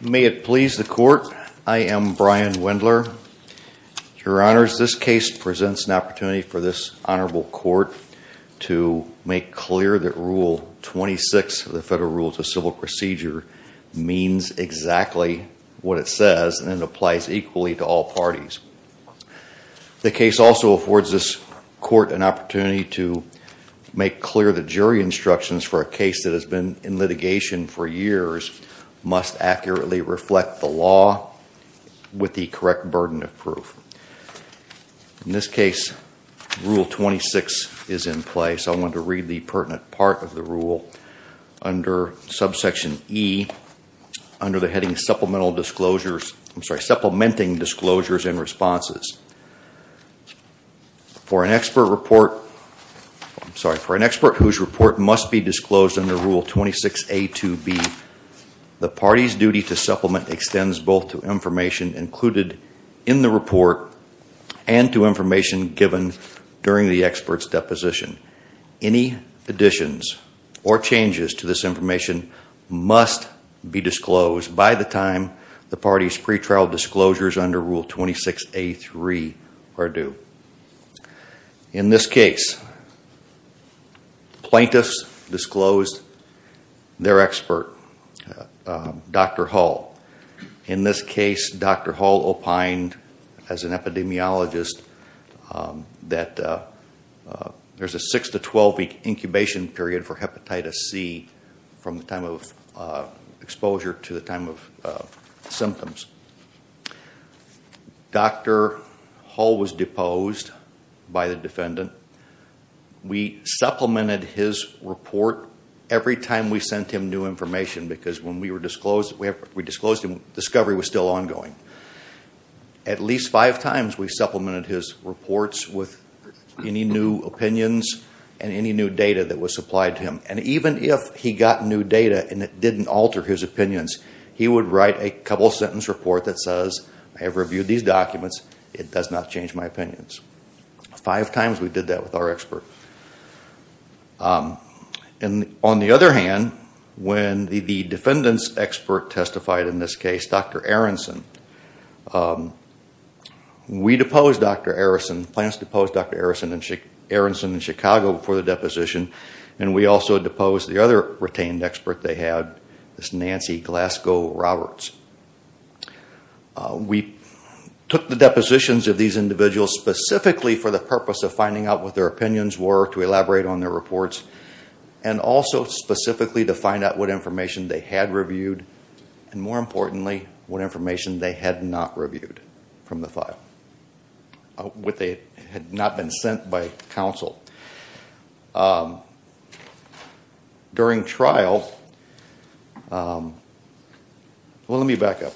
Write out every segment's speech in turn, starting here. May it please the court, I am Brian Wendler. Your honors, this case presents an opportunity for this honorable court to make clear that Rule 26 of the Federal Rules of Civil Procedure means exactly what it says and it applies equally to all parties. The case also affords this court an opportunity to make clear the jury instructions for a jury to accurately reflect the law with the correct burden of proof. In this case, Rule 26 is in place, I want to read the pertinent part of the rule under subsection E, under the heading Supplemental Disclosures, I'm sorry, Supplementing Disclosures and Responses. For an expert report, I'm sorry, for an expert whose report must be disclosed under Rule 26A2B, the party's duty to supplement extends both to information included in the report and to information given during the expert's deposition. Any additions or changes to this information must be disclosed by the time the party's pretrial disclosures under Rule 26A3 are due. In this case, plaintiffs disclosed their expert, Dr. Hull. In this case, Dr. Hull opined as an epidemiologist that there's a 6-12 week incubation period for Hepatitis C from the time of exposure to the time of symptoms. Dr. Hull was deposed by the defendant. We supplemented his report every time we sent him new information because when we disclosed him, discovery was still ongoing. At least five times we supplemented his reports with any new opinions and any new data that was supplied to him. And even if he got new data and it didn't alter his opinions, he would write a couple sentence report that says, I have reviewed these documents, it does not change my opinions. Five times we did that with our expert. On the other hand, when the defendant's expert testified in this case, Dr. Aronson, we deposed Dr. Aronson, the plaintiffs deposed Dr. Aronson in Chicago before the deposition and we also deposed the other retained expert they had, this Nancy Glasgow Roberts. We took the depositions of these individuals specifically for the purpose of finding out what their opinions were, to elaborate on their reports and also specifically to find out what information they had reviewed and more importantly, what information they had not reviewed from the file, what they had not been sent by counsel. During trial, well let me back up.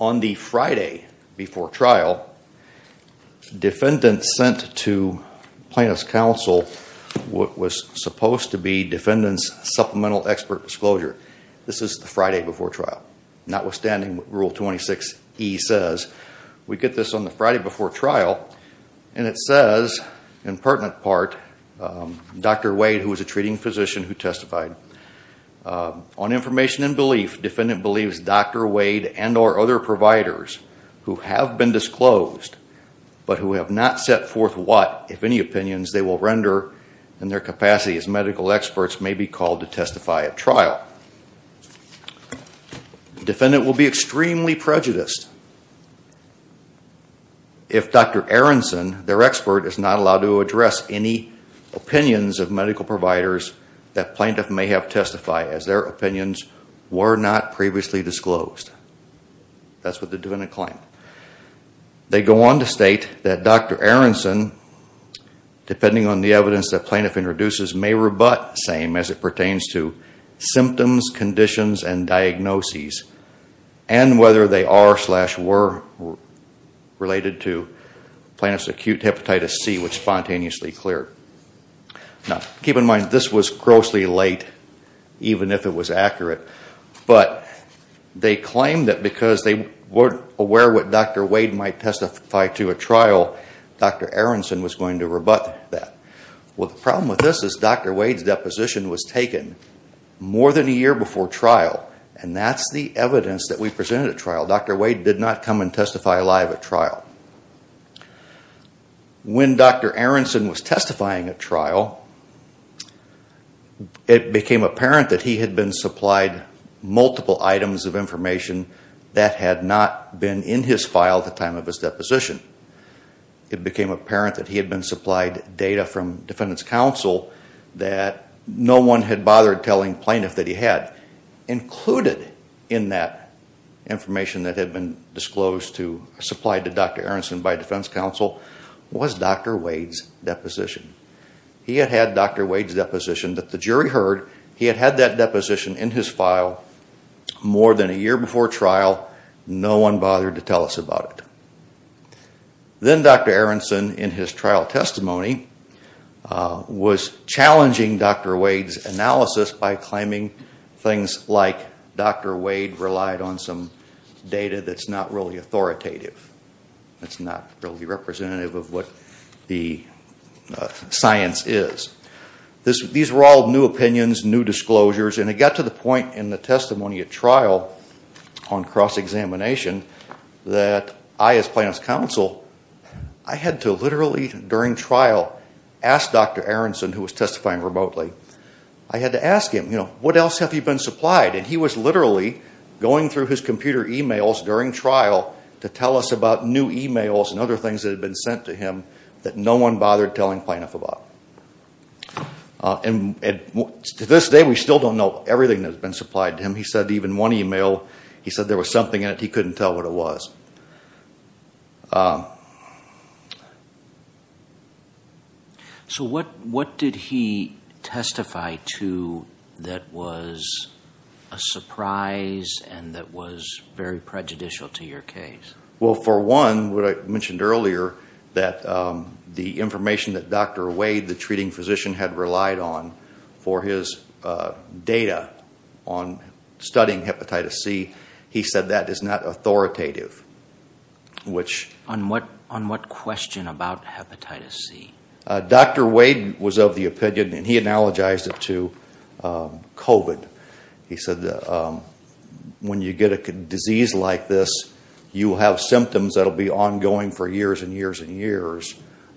On the Friday before trial, defendant sent to plaintiff's counsel what was supposed to be defendant's supplemental expert disclosure. This is the Friday before trial. Notwithstanding what Rule 26E says, we get this on the Friday before trial and it says in pertinent part, Dr. Wade, who was a treating physician who testified. On information and belief, defendant believes Dr. Wade and or other providers who have been disclosed but who have not set forth what, if any, opinions they will render in their defense. Defendant will be extremely prejudiced if Dr. Aronson, their expert, is not allowed to address any opinions of medical providers that plaintiff may have testified as their opinions were not previously disclosed. That's what the defendant claimed. They go on to state that Dr. Aronson, depending on the evidence that plaintiff introduces, may rebut saying as it pertains to symptoms, conditions, and diagnoses and whether they are slash were related to plaintiff's acute hepatitis C which spontaneously cleared. Now, keep in mind this was grossly late even if it was accurate, but they claim that because they weren't aware what Dr. Wade might testify to at trial, Dr. Aronson was going to rebut that. Well, the problem with this is Dr. Wade's deposition was taken more than a year before trial and that's the evidence that we presented at trial. Dr. Wade did not come and testify live at trial. When Dr. Aronson was testifying at trial, it became apparent that he had been supplied multiple items of information that had not been in his file at the time of his deposition. It became apparent that he had been supplied data from Defendant's Counsel that no one had bothered telling plaintiff that he had. Included in that information that had been disclosed to, supplied to Dr. Aronson by Defendant's Counsel was Dr. Wade's deposition. He had had Dr. Wade's deposition that the jury heard. He had had that deposition in his file more than a year before trial. No one bothered to tell us about it. Then Dr. Aronson, in his trial testimony, was challenging Dr. Wade's analysis by claiming things like Dr. Wade relied on some data that's not really authoritative, that's not really representative of what the science is. These were all new opinions, new disclosures, and it got to the point in the testimony at cross-examination that I, as Plaintiff's Counsel, I had to literally, during trial, ask Dr. Aronson, who was testifying remotely, I had to ask him, you know, what else have you been supplied? And he was literally going through his computer emails during trial to tell us about new emails and other things that had been sent to him that no one bothered telling plaintiff about. To this day, we still don't know everything that's been supplied to him. He said even one email, he said there was something in it, he couldn't tell what it was. So what did he testify to that was a surprise and that was very prejudicial to your case? Well, for one, what I mentioned earlier, that the information that Dr. Wade, the treating studying hepatitis C, he said that is not authoritative. On what question about hepatitis C? Dr. Wade was of the opinion, and he analogized it to COVID. He said when you get a disease like this, you have symptoms that will be ongoing for years and years and years,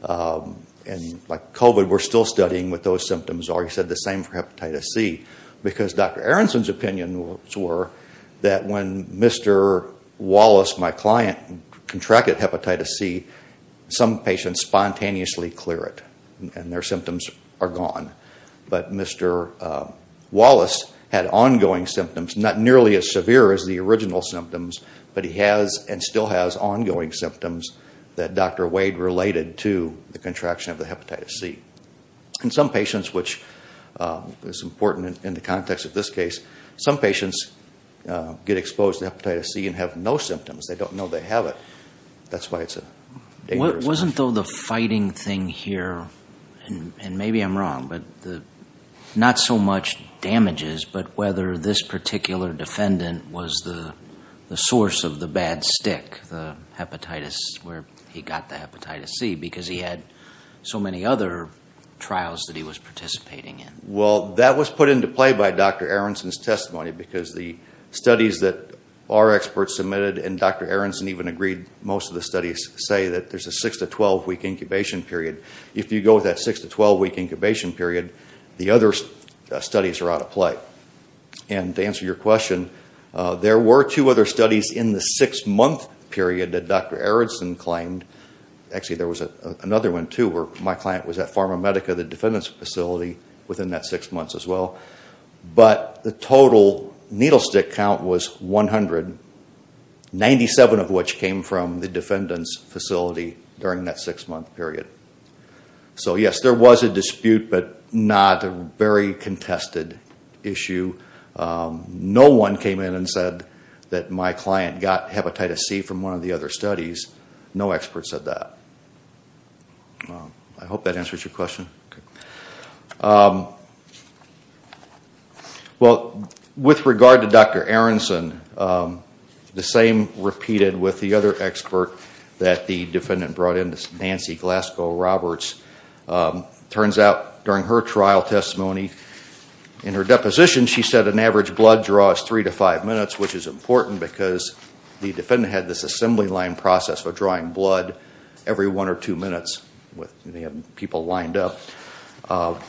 and like COVID, we're still studying what those symptoms are. And he said the same for hepatitis C because Dr. Aronson's opinion was that when Mr. Wallace, my client, contracted hepatitis C, some patients spontaneously clear it and their symptoms are gone. But Mr. Wallace had ongoing symptoms, not nearly as severe as the original symptoms, but he has and still has ongoing symptoms that Dr. Wade related to the contraction of the hepatitis C. And some patients, which is important in the context of this case, some patients get exposed to hepatitis C and have no symptoms. They don't know they have it. That's why it's a dangerous thing. Wasn't though the fighting thing here, and maybe I'm wrong, but not so much damages, but whether this particular defendant was the source of the bad stick, the hepatitis where he got the hepatitis C, because he had so many other trials that he was participating in. Well, that was put into play by Dr. Aronson's testimony because the studies that our experts submitted and Dr. Aronson even agreed most of the studies say that there's a six to twelve week incubation period. If you go with that six to twelve week incubation period, the other studies are out of play. And to answer your question, there were two other studies in the six month period that Dr. Aronson claimed, actually there was another one too where my client was at Pharmamedica, the defendant's facility, within that six months as well. But the total needle stick count was 100, 97 of which came from the defendant's facility during that six month period. So yes, there was a dispute, but not a very contested issue. No one came in and said that my client got hepatitis C from one of the other studies. No expert said that. I hope that answers your question. Well, with regard to Dr. Aronson, the same repeated with the other expert that the defendant brought in, Nancy Glasgow Roberts, turns out during her trial testimony, in her deposition she said an average blood draw is three to five minutes, which is important because the defendant had this assembly line process for drawing blood every one or two minutes with having people lined up.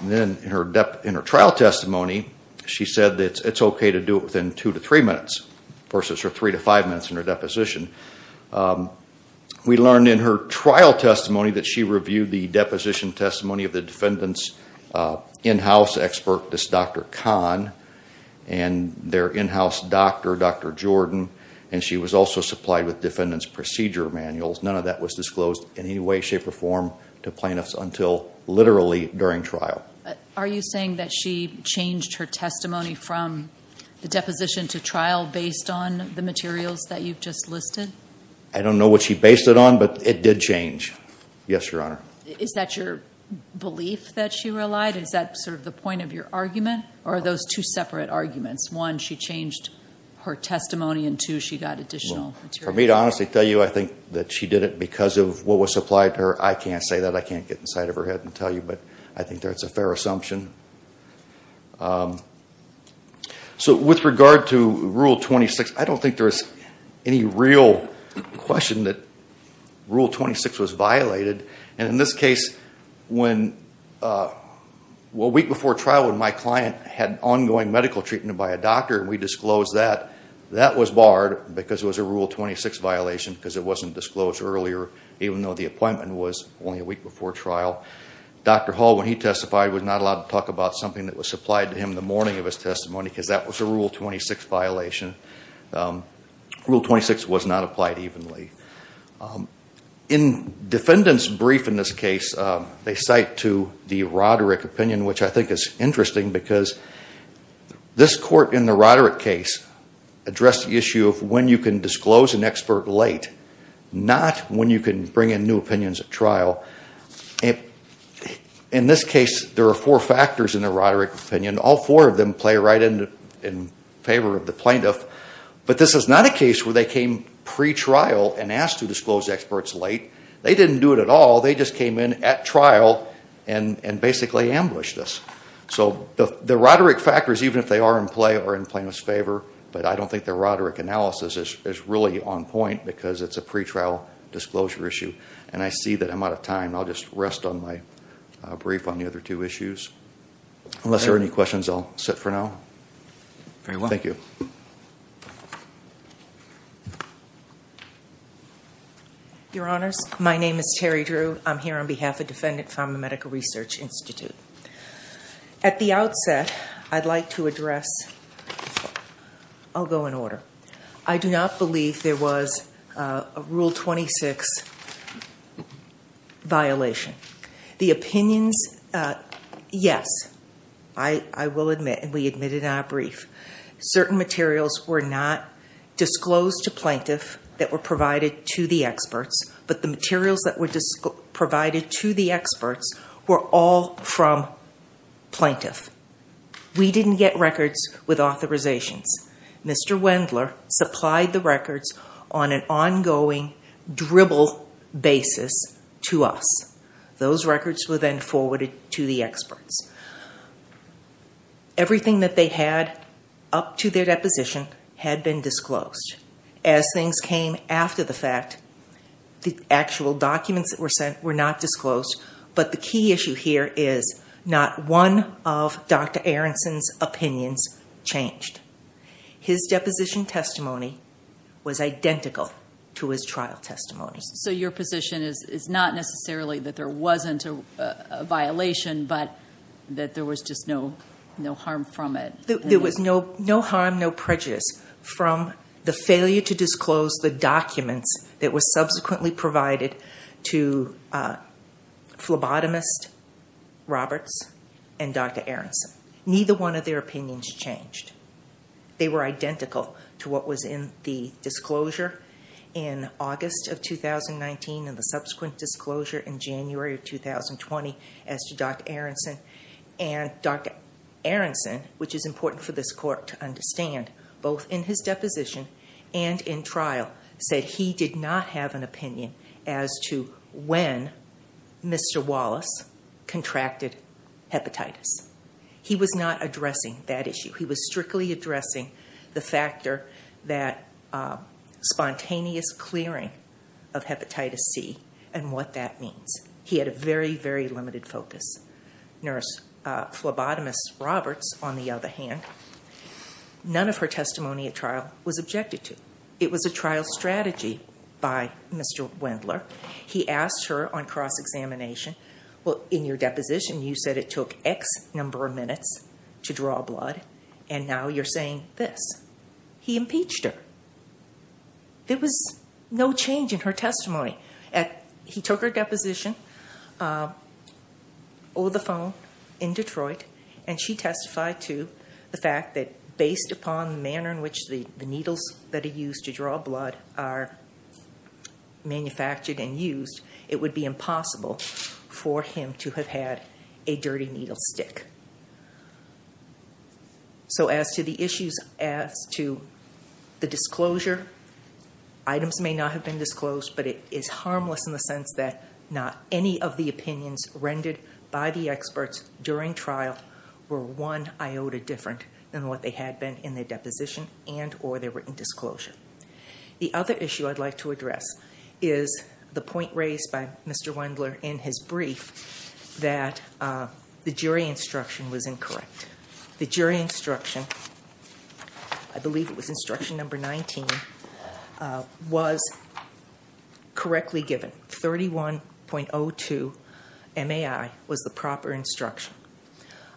Then in her trial testimony, she said that it's okay to do it within two to three minutes, versus her three to five minutes in her deposition. We learned in her trial testimony that she reviewed the deposition testimony of the defendant's in-house expert, this Dr. Kahn, and their in-house doctor, Dr. Jordan, and she was also supplied with defendant's procedure manuals. None of that was disclosed in any way, shape, or form to plaintiffs until literally during trial. Are you saying that she changed her testimony from the deposition to trial based on the materials that you've just listed? I don't know what she based it on, but it did change. Yes, Your Honor. Is that your belief that she relied? Is that sort of the point of your argument, or are those two separate arguments? One, she changed her testimony, and two, she got additional materials. For me to honestly tell you I think that she did it because of what was supplied to her, I can't say that. I can't get inside of her head and tell you, but I think that's a fair assumption. With regard to Rule 26, I don't think there's any real question that Rule 26 was violated. In this case, a week before trial when my client had ongoing medical treatment by a doctor, and we disclosed that, that was barred because it was a Rule 26 violation because it wasn't disclosed earlier, even though the appointment was only a week before trial. Dr. Hall, when he testified, was not allowed to talk about something that was supplied to him the morning of his testimony because that was a Rule 26 violation. Rule 26 was not applied evenly. In defendant's brief in this case, they cite to the Roderick opinion, which I think is interesting because this court in the Roderick case addressed the issue of when you can disclose an expert late, not when you can bring in new opinions at trial. In this case, there are four factors in the Roderick opinion. All four of them play right in favor of the plaintiff, but this is not a case where they came pre-trial and asked to disclose experts late. They didn't do it at all. They just came in at trial and basically ambushed us. The Roderick factors, even if they are in play, are in plaintiff's favor, but I don't think the Roderick analysis is really on point because it's a pre-trial disclosure issue. I see that I'm out of time. I'll just rest on my brief on the other two issues. Unless there are any questions, I'll sit for now. Thank you. Your Honors, my name is Terri Drew. I'm here on behalf of Defendant Pharma Medical Research Institute. At the outset, I'd like to address... I'll go in order. I do not believe there was a Rule 26 violation. The opinions, yes, I will admit, and we admitted in our brief. Certain materials were not disclosed to plaintiff that were provided to the experts, but the materials that were provided to the experts were all from plaintiff. We didn't get records with authorizations. Mr. Wendler supplied the records on an ongoing dribble basis to us. Everything that they had up to their deposition had been disclosed. As things came after the fact, the actual documents that were sent were not disclosed, but the key issue here is not one of Dr. Aronson's opinions changed. His deposition testimony was identical to his trial testimony. Your position is not necessarily that there wasn't a violation, but that there was just no harm from it? There was no harm, no prejudice from the failure to disclose the documents that were subsequently provided to phlebotomist Roberts and Dr. Aronson. Neither one of their opinions changed. They were identical to what was in the disclosure in August of 2019 and the subsequent disclosure in January of 2020 as to Dr. Aronson, and Dr. Aronson, which is important for this court to understand, both in his deposition and in trial, said he did not have an opinion as to when Mr. Wallace contracted hepatitis. He was not addressing that issue. He was strictly addressing the factor that spontaneous clearing of hepatitis C and what that means. He had a very, very limited focus. Phlebotomist Roberts, on the other hand, none of her testimony at trial was objected to. It was a trial strategy by Mr. Wendler. He asked her on cross-examination, well, in your deposition, you said it took X number of minutes to draw blood, and now you're saying this. He impeached her. There was no change in her testimony. He took her deposition over the phone in Detroit, and she testified to the fact that based upon the manner in which the needles that are used to draw blood are manufactured and used, it would be impossible for him to have had a dirty needle stick. So as to the issues as to the disclosure, items may not have been disclosed, but it is harmless in the sense that not any of the opinions rendered by the experts during trial were one iota different than what they had been in their deposition and or their written disclosure. The other issue I'd like to address is the point raised by Mr. Wendler in his brief that the jury instruction was incorrect. The jury instruction, I believe it was instruction number 19, was correctly given. 31.02 MAI was the proper instruction.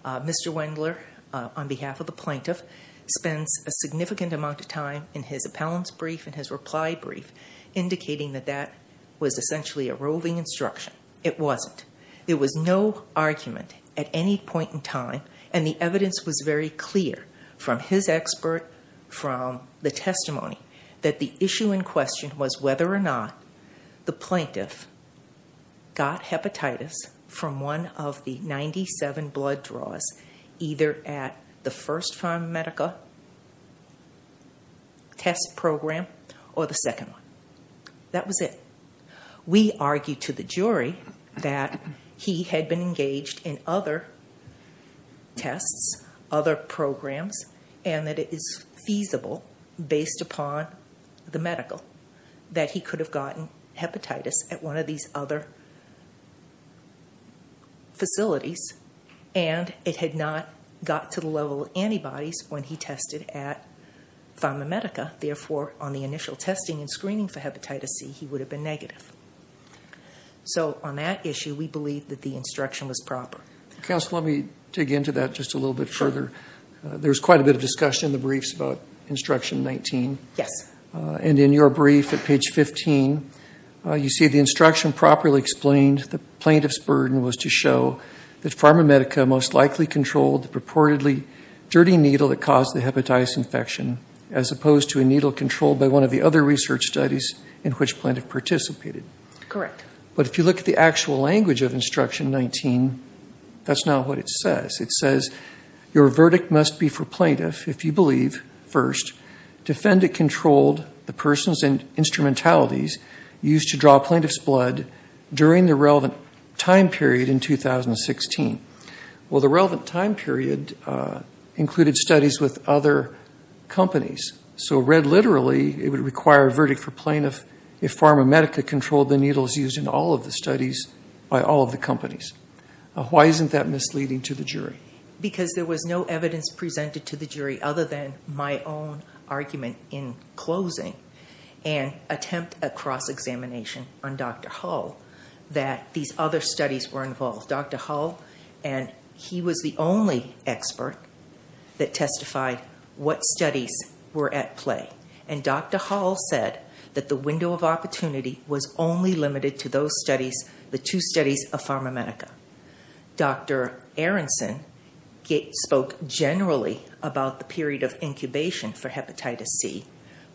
Mr. Wendler, on behalf of the plaintiff, spends a significant amount of time in his appellant's brief and his reply brief indicating that that was essentially a roving instruction. It wasn't. There was no argument at any point in time, and the evidence was very clear from his expert, from the testimony, that the issue in question was whether or not the plaintiff got hepatitis from one of the 97 blood draws, either at the first Pharmamedica test program or the second one. That was it. We argued to the jury that he had been engaged in other tests, other programs, and that it is feasible, based upon the medical, that he could have gotten hepatitis at one of these other facilities, and it had not got to the level of antibodies when he tested at Pharmamedica. Therefore, on the initial testing and screening for hepatitis C, he would have been negative. So on that issue, we believe that the instruction was proper. Counsel, let me dig into that just a little bit further. There's quite a bit of discussion in the briefs about instruction 19. Yes. And in your brief at page 15, you see the instruction properly explained the plaintiff's burden was to show that Pharmamedica most likely controlled the purportedly dirty needle that caused the hepatitis infection, as opposed to a needle controlled by one of the other research studies in which plaintiff participated. Correct. But if you look at the actual language of instruction 19, that's not what it says. It says, your verdict must be for plaintiff if you believe, first, defendant controlled the person's instrumentalities used to draw plaintiff's blood during the relevant time period in 2016. Well, the relevant time period included studies with other companies. So read literally, it would require a verdict for plaintiff if Pharmamedica controlled the needles used in all of the studies by all of the companies. Why isn't that misleading to the jury? Because there was no evidence presented to the jury other than my own argument in closing and attempt at cross-examination on Dr. Hull that these other studies were involved. Dr. Hull, and he was the only expert that testified what studies were at play. And Dr. Hull said that the window of opportunity was only limited to those studies, the two studies that were Pharmamedica. Dr. Aronson spoke generally about the period of incubation for hepatitis C,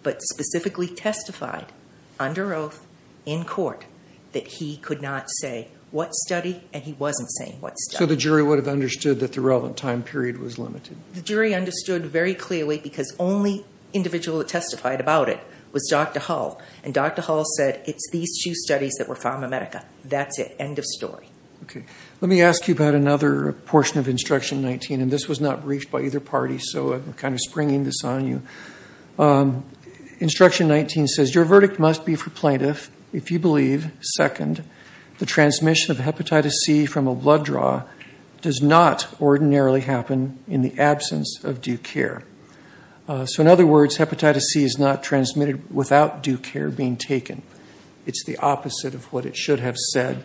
but specifically testified under oath in court that he could not say what study and he wasn't saying what study. So the jury would have understood that the relevant time period was limited? The jury understood very clearly because only individual that testified about it was Dr. Hull. And Dr. Hull said, it's these two studies that were Pharmamedica. That's it. End of story. Let me ask you about another portion of Instruction 19, and this was not briefed by either party, so I'm kind of springing this on you. Instruction 19 says your verdict must be for plaintiff if you believe, second, the transmission of hepatitis C from a blood draw does not ordinarily happen in the absence of due care. So in other words, hepatitis C is not transmitted without due care being taken. It's the opposite of what it should have said.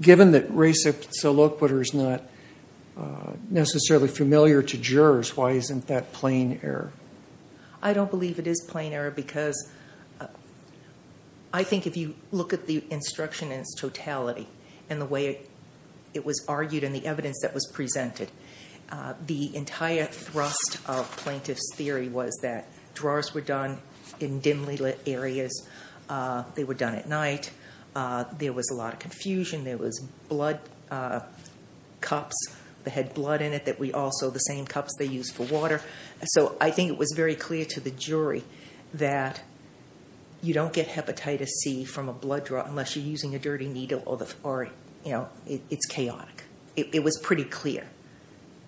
Given that Reza Salokhbar is not necessarily familiar to jurors, why isn't that plain error? I don't believe it is plain error because I think if you look at the instruction in its totality and the way it was argued and the evidence that was presented, the entire thrust of plaintiff's theory was that draws were done in dimly lit areas. They were done at night. There was a lot of confusion. There was blood cups that had blood in it that we also, the same cups they use for water. So I think it was very clear to the jury that you don't get hepatitis C from a blood draw unless you're using a dirty needle or, you know, it's chaotic. It was pretty clear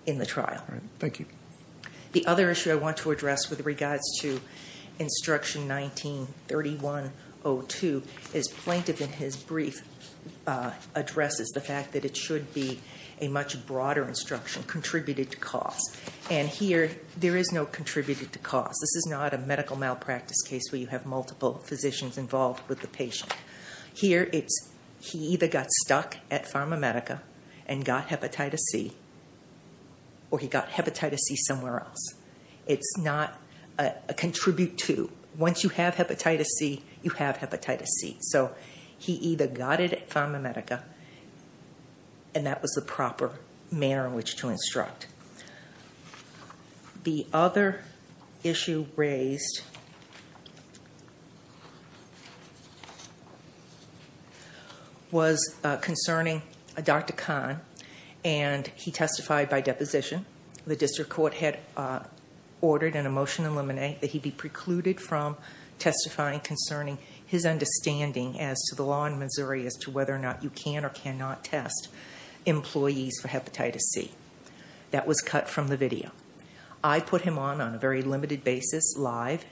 in the trial. Thank you. The other issue I want to address with regards to instruction 19-3102 is plaintiff in his brief addresses the fact that it should be a much broader instruction contributed to cause. And here, there is no contributed to cause. This is not a medical malpractice case where you have multiple physicians involved with the patient. Here it's he either got stuck at PharmaMedica and got hepatitis C or he got hepatitis C somewhere else. It's not a contribute to. Once you have hepatitis C, you have hepatitis C. So he either got it at PharmaMedica and that was the proper manner in which to instruct. The other issue raised was concerning Dr. Kahn and he testified by deposition. The district court had ordered in a motion in limine that he be precluded from testifying concerning his understanding as to the law in Missouri as to whether or not you can or cannot test employees for hepatitis C. That was cut from the video. I put him on on a very limited basis live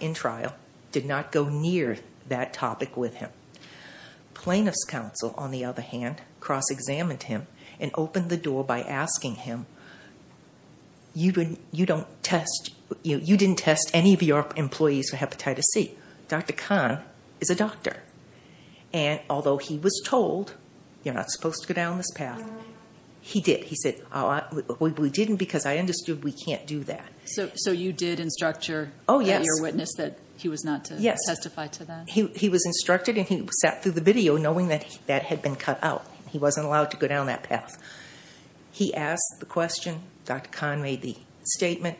in trial, did not go near that topic with Plaintiff's counsel, on the other hand, cross examined him and opened the door by asking him you didn't test any of your employees for hepatitis C. Dr. Kahn is a doctor and although he was told you're not supposed to go down this path, he did. He said we didn't because I understood we can't do that. So you did instruct your ear witness that he was not to testify to that? He was instructed and he sat through the video knowing that that had been cut out. He wasn't allowed to go down that path. He asked the question, Dr. Kahn made the statement,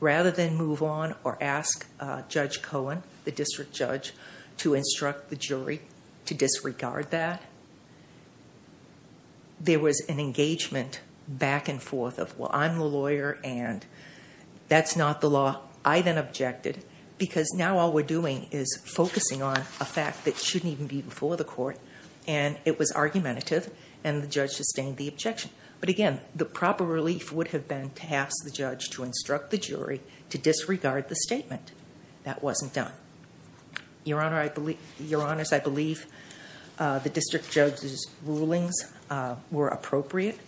rather than move on or ask Judge Cohen, the district judge, to instruct the jury to disregard that. There was an engagement back and forth of, well, I'm the lawyer and that's not the law. I then objected because now all we're doing is focusing on a fact that shouldn't even be before the court and it was argumentative and the judge sustained the objection. But again, the proper relief would have been to ask the judge to instruct the jury to disregard the statement. That wasn't done. Your Honor, I believe the district judge's rulings were appropriate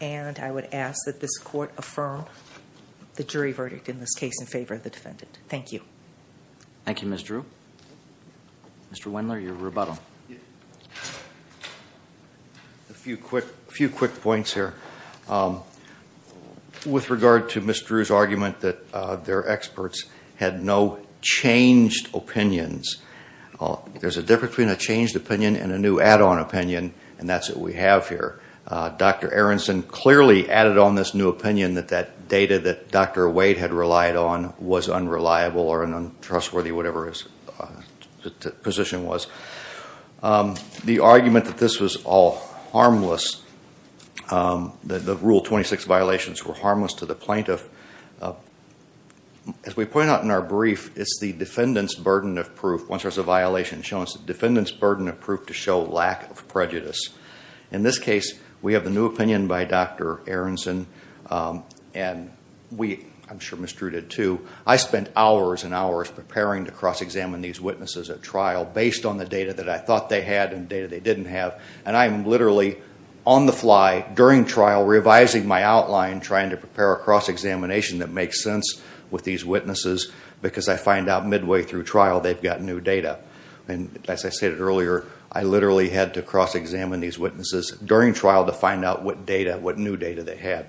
and I would ask that this court affirm the jury verdict in this case in favor of the defendant. Thank you. Thank you, Ms. Drew. Mr. Wendler, your rebuttal. A few quick points here. With regard to Ms. Drew's argument that their experts had no changed opinions, there's a difference between a changed opinion and a new add-on opinion and that's what we have here. Dr. Aronson clearly added on this new opinion that that data that Dr. Wade had relied on was unreliable or an untrustworthy whatever his position was. The argument that this was all harmless, that the Rule 26 violations were harmless to the plaintiff, as we point out in our brief, it's the defendant's burden of proof once there's a violation showing it's the defendant's burden of proof to show lack of prejudice. In this case, we have the new opinion by Dr. Aronson and we, I'm sure Ms. Drew did too, I spent hours and hours preparing to cross-examine these witnesses at trial based on the data that I thought they had and the data they didn't have. I'm literally on the fly during trial revising my outline trying to prepare a cross-examination that makes sense with these witnesses because I find out midway through trial they've got new data. As I stated earlier, I literally had to cross-examine these witnesses during trial to find out what data, what new data they had.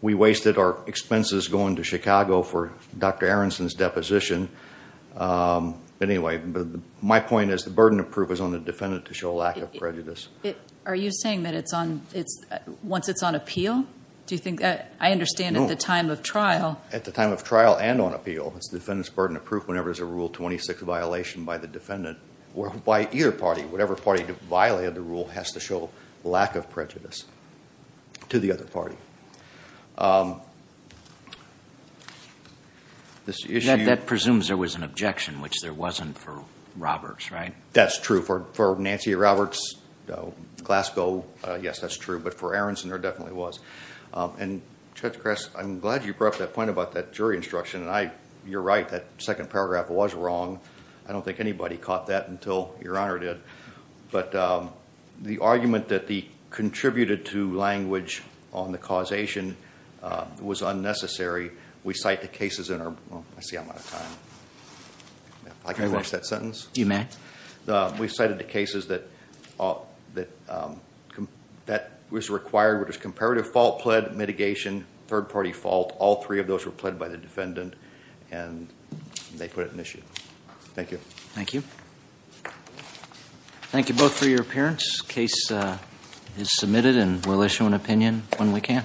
We wasted our expenses going to Chicago for Dr. Aronson's deposition. Anyway, my point is the burden of proof is on the defendant to show lack of prejudice. Are you saying that it's on, once it's on appeal, do you think, I understand at the time of trial. At the time of trial and on appeal, it's the defendant's burden of proof whenever there's a Rule 26 violation by the defendant or by either party, whatever party violated the to the other party. That presumes there was an objection, which there wasn't for Roberts, right? That's true. For Nancy Roberts, Glasgow, yes, that's true, but for Aronson, there definitely was. Judge Kress, I'm glad you brought up that point about that jury instruction. You're right. That second paragraph was wrong. I don't think anybody caught that until Your Honor did, but the argument that the contributed to language on the causation was unnecessary. We cite the cases in our... I see I'm out of time. I can't finish that sentence? You may. We cited the cases that was required, which was comparative fault, pled, mitigation, third party fault. All three of those were pled by the defendant, and they put it in issue. Thank you. Thank you. Thank you both for your appearance. This case is submitted, and we'll issue an opinion when we can.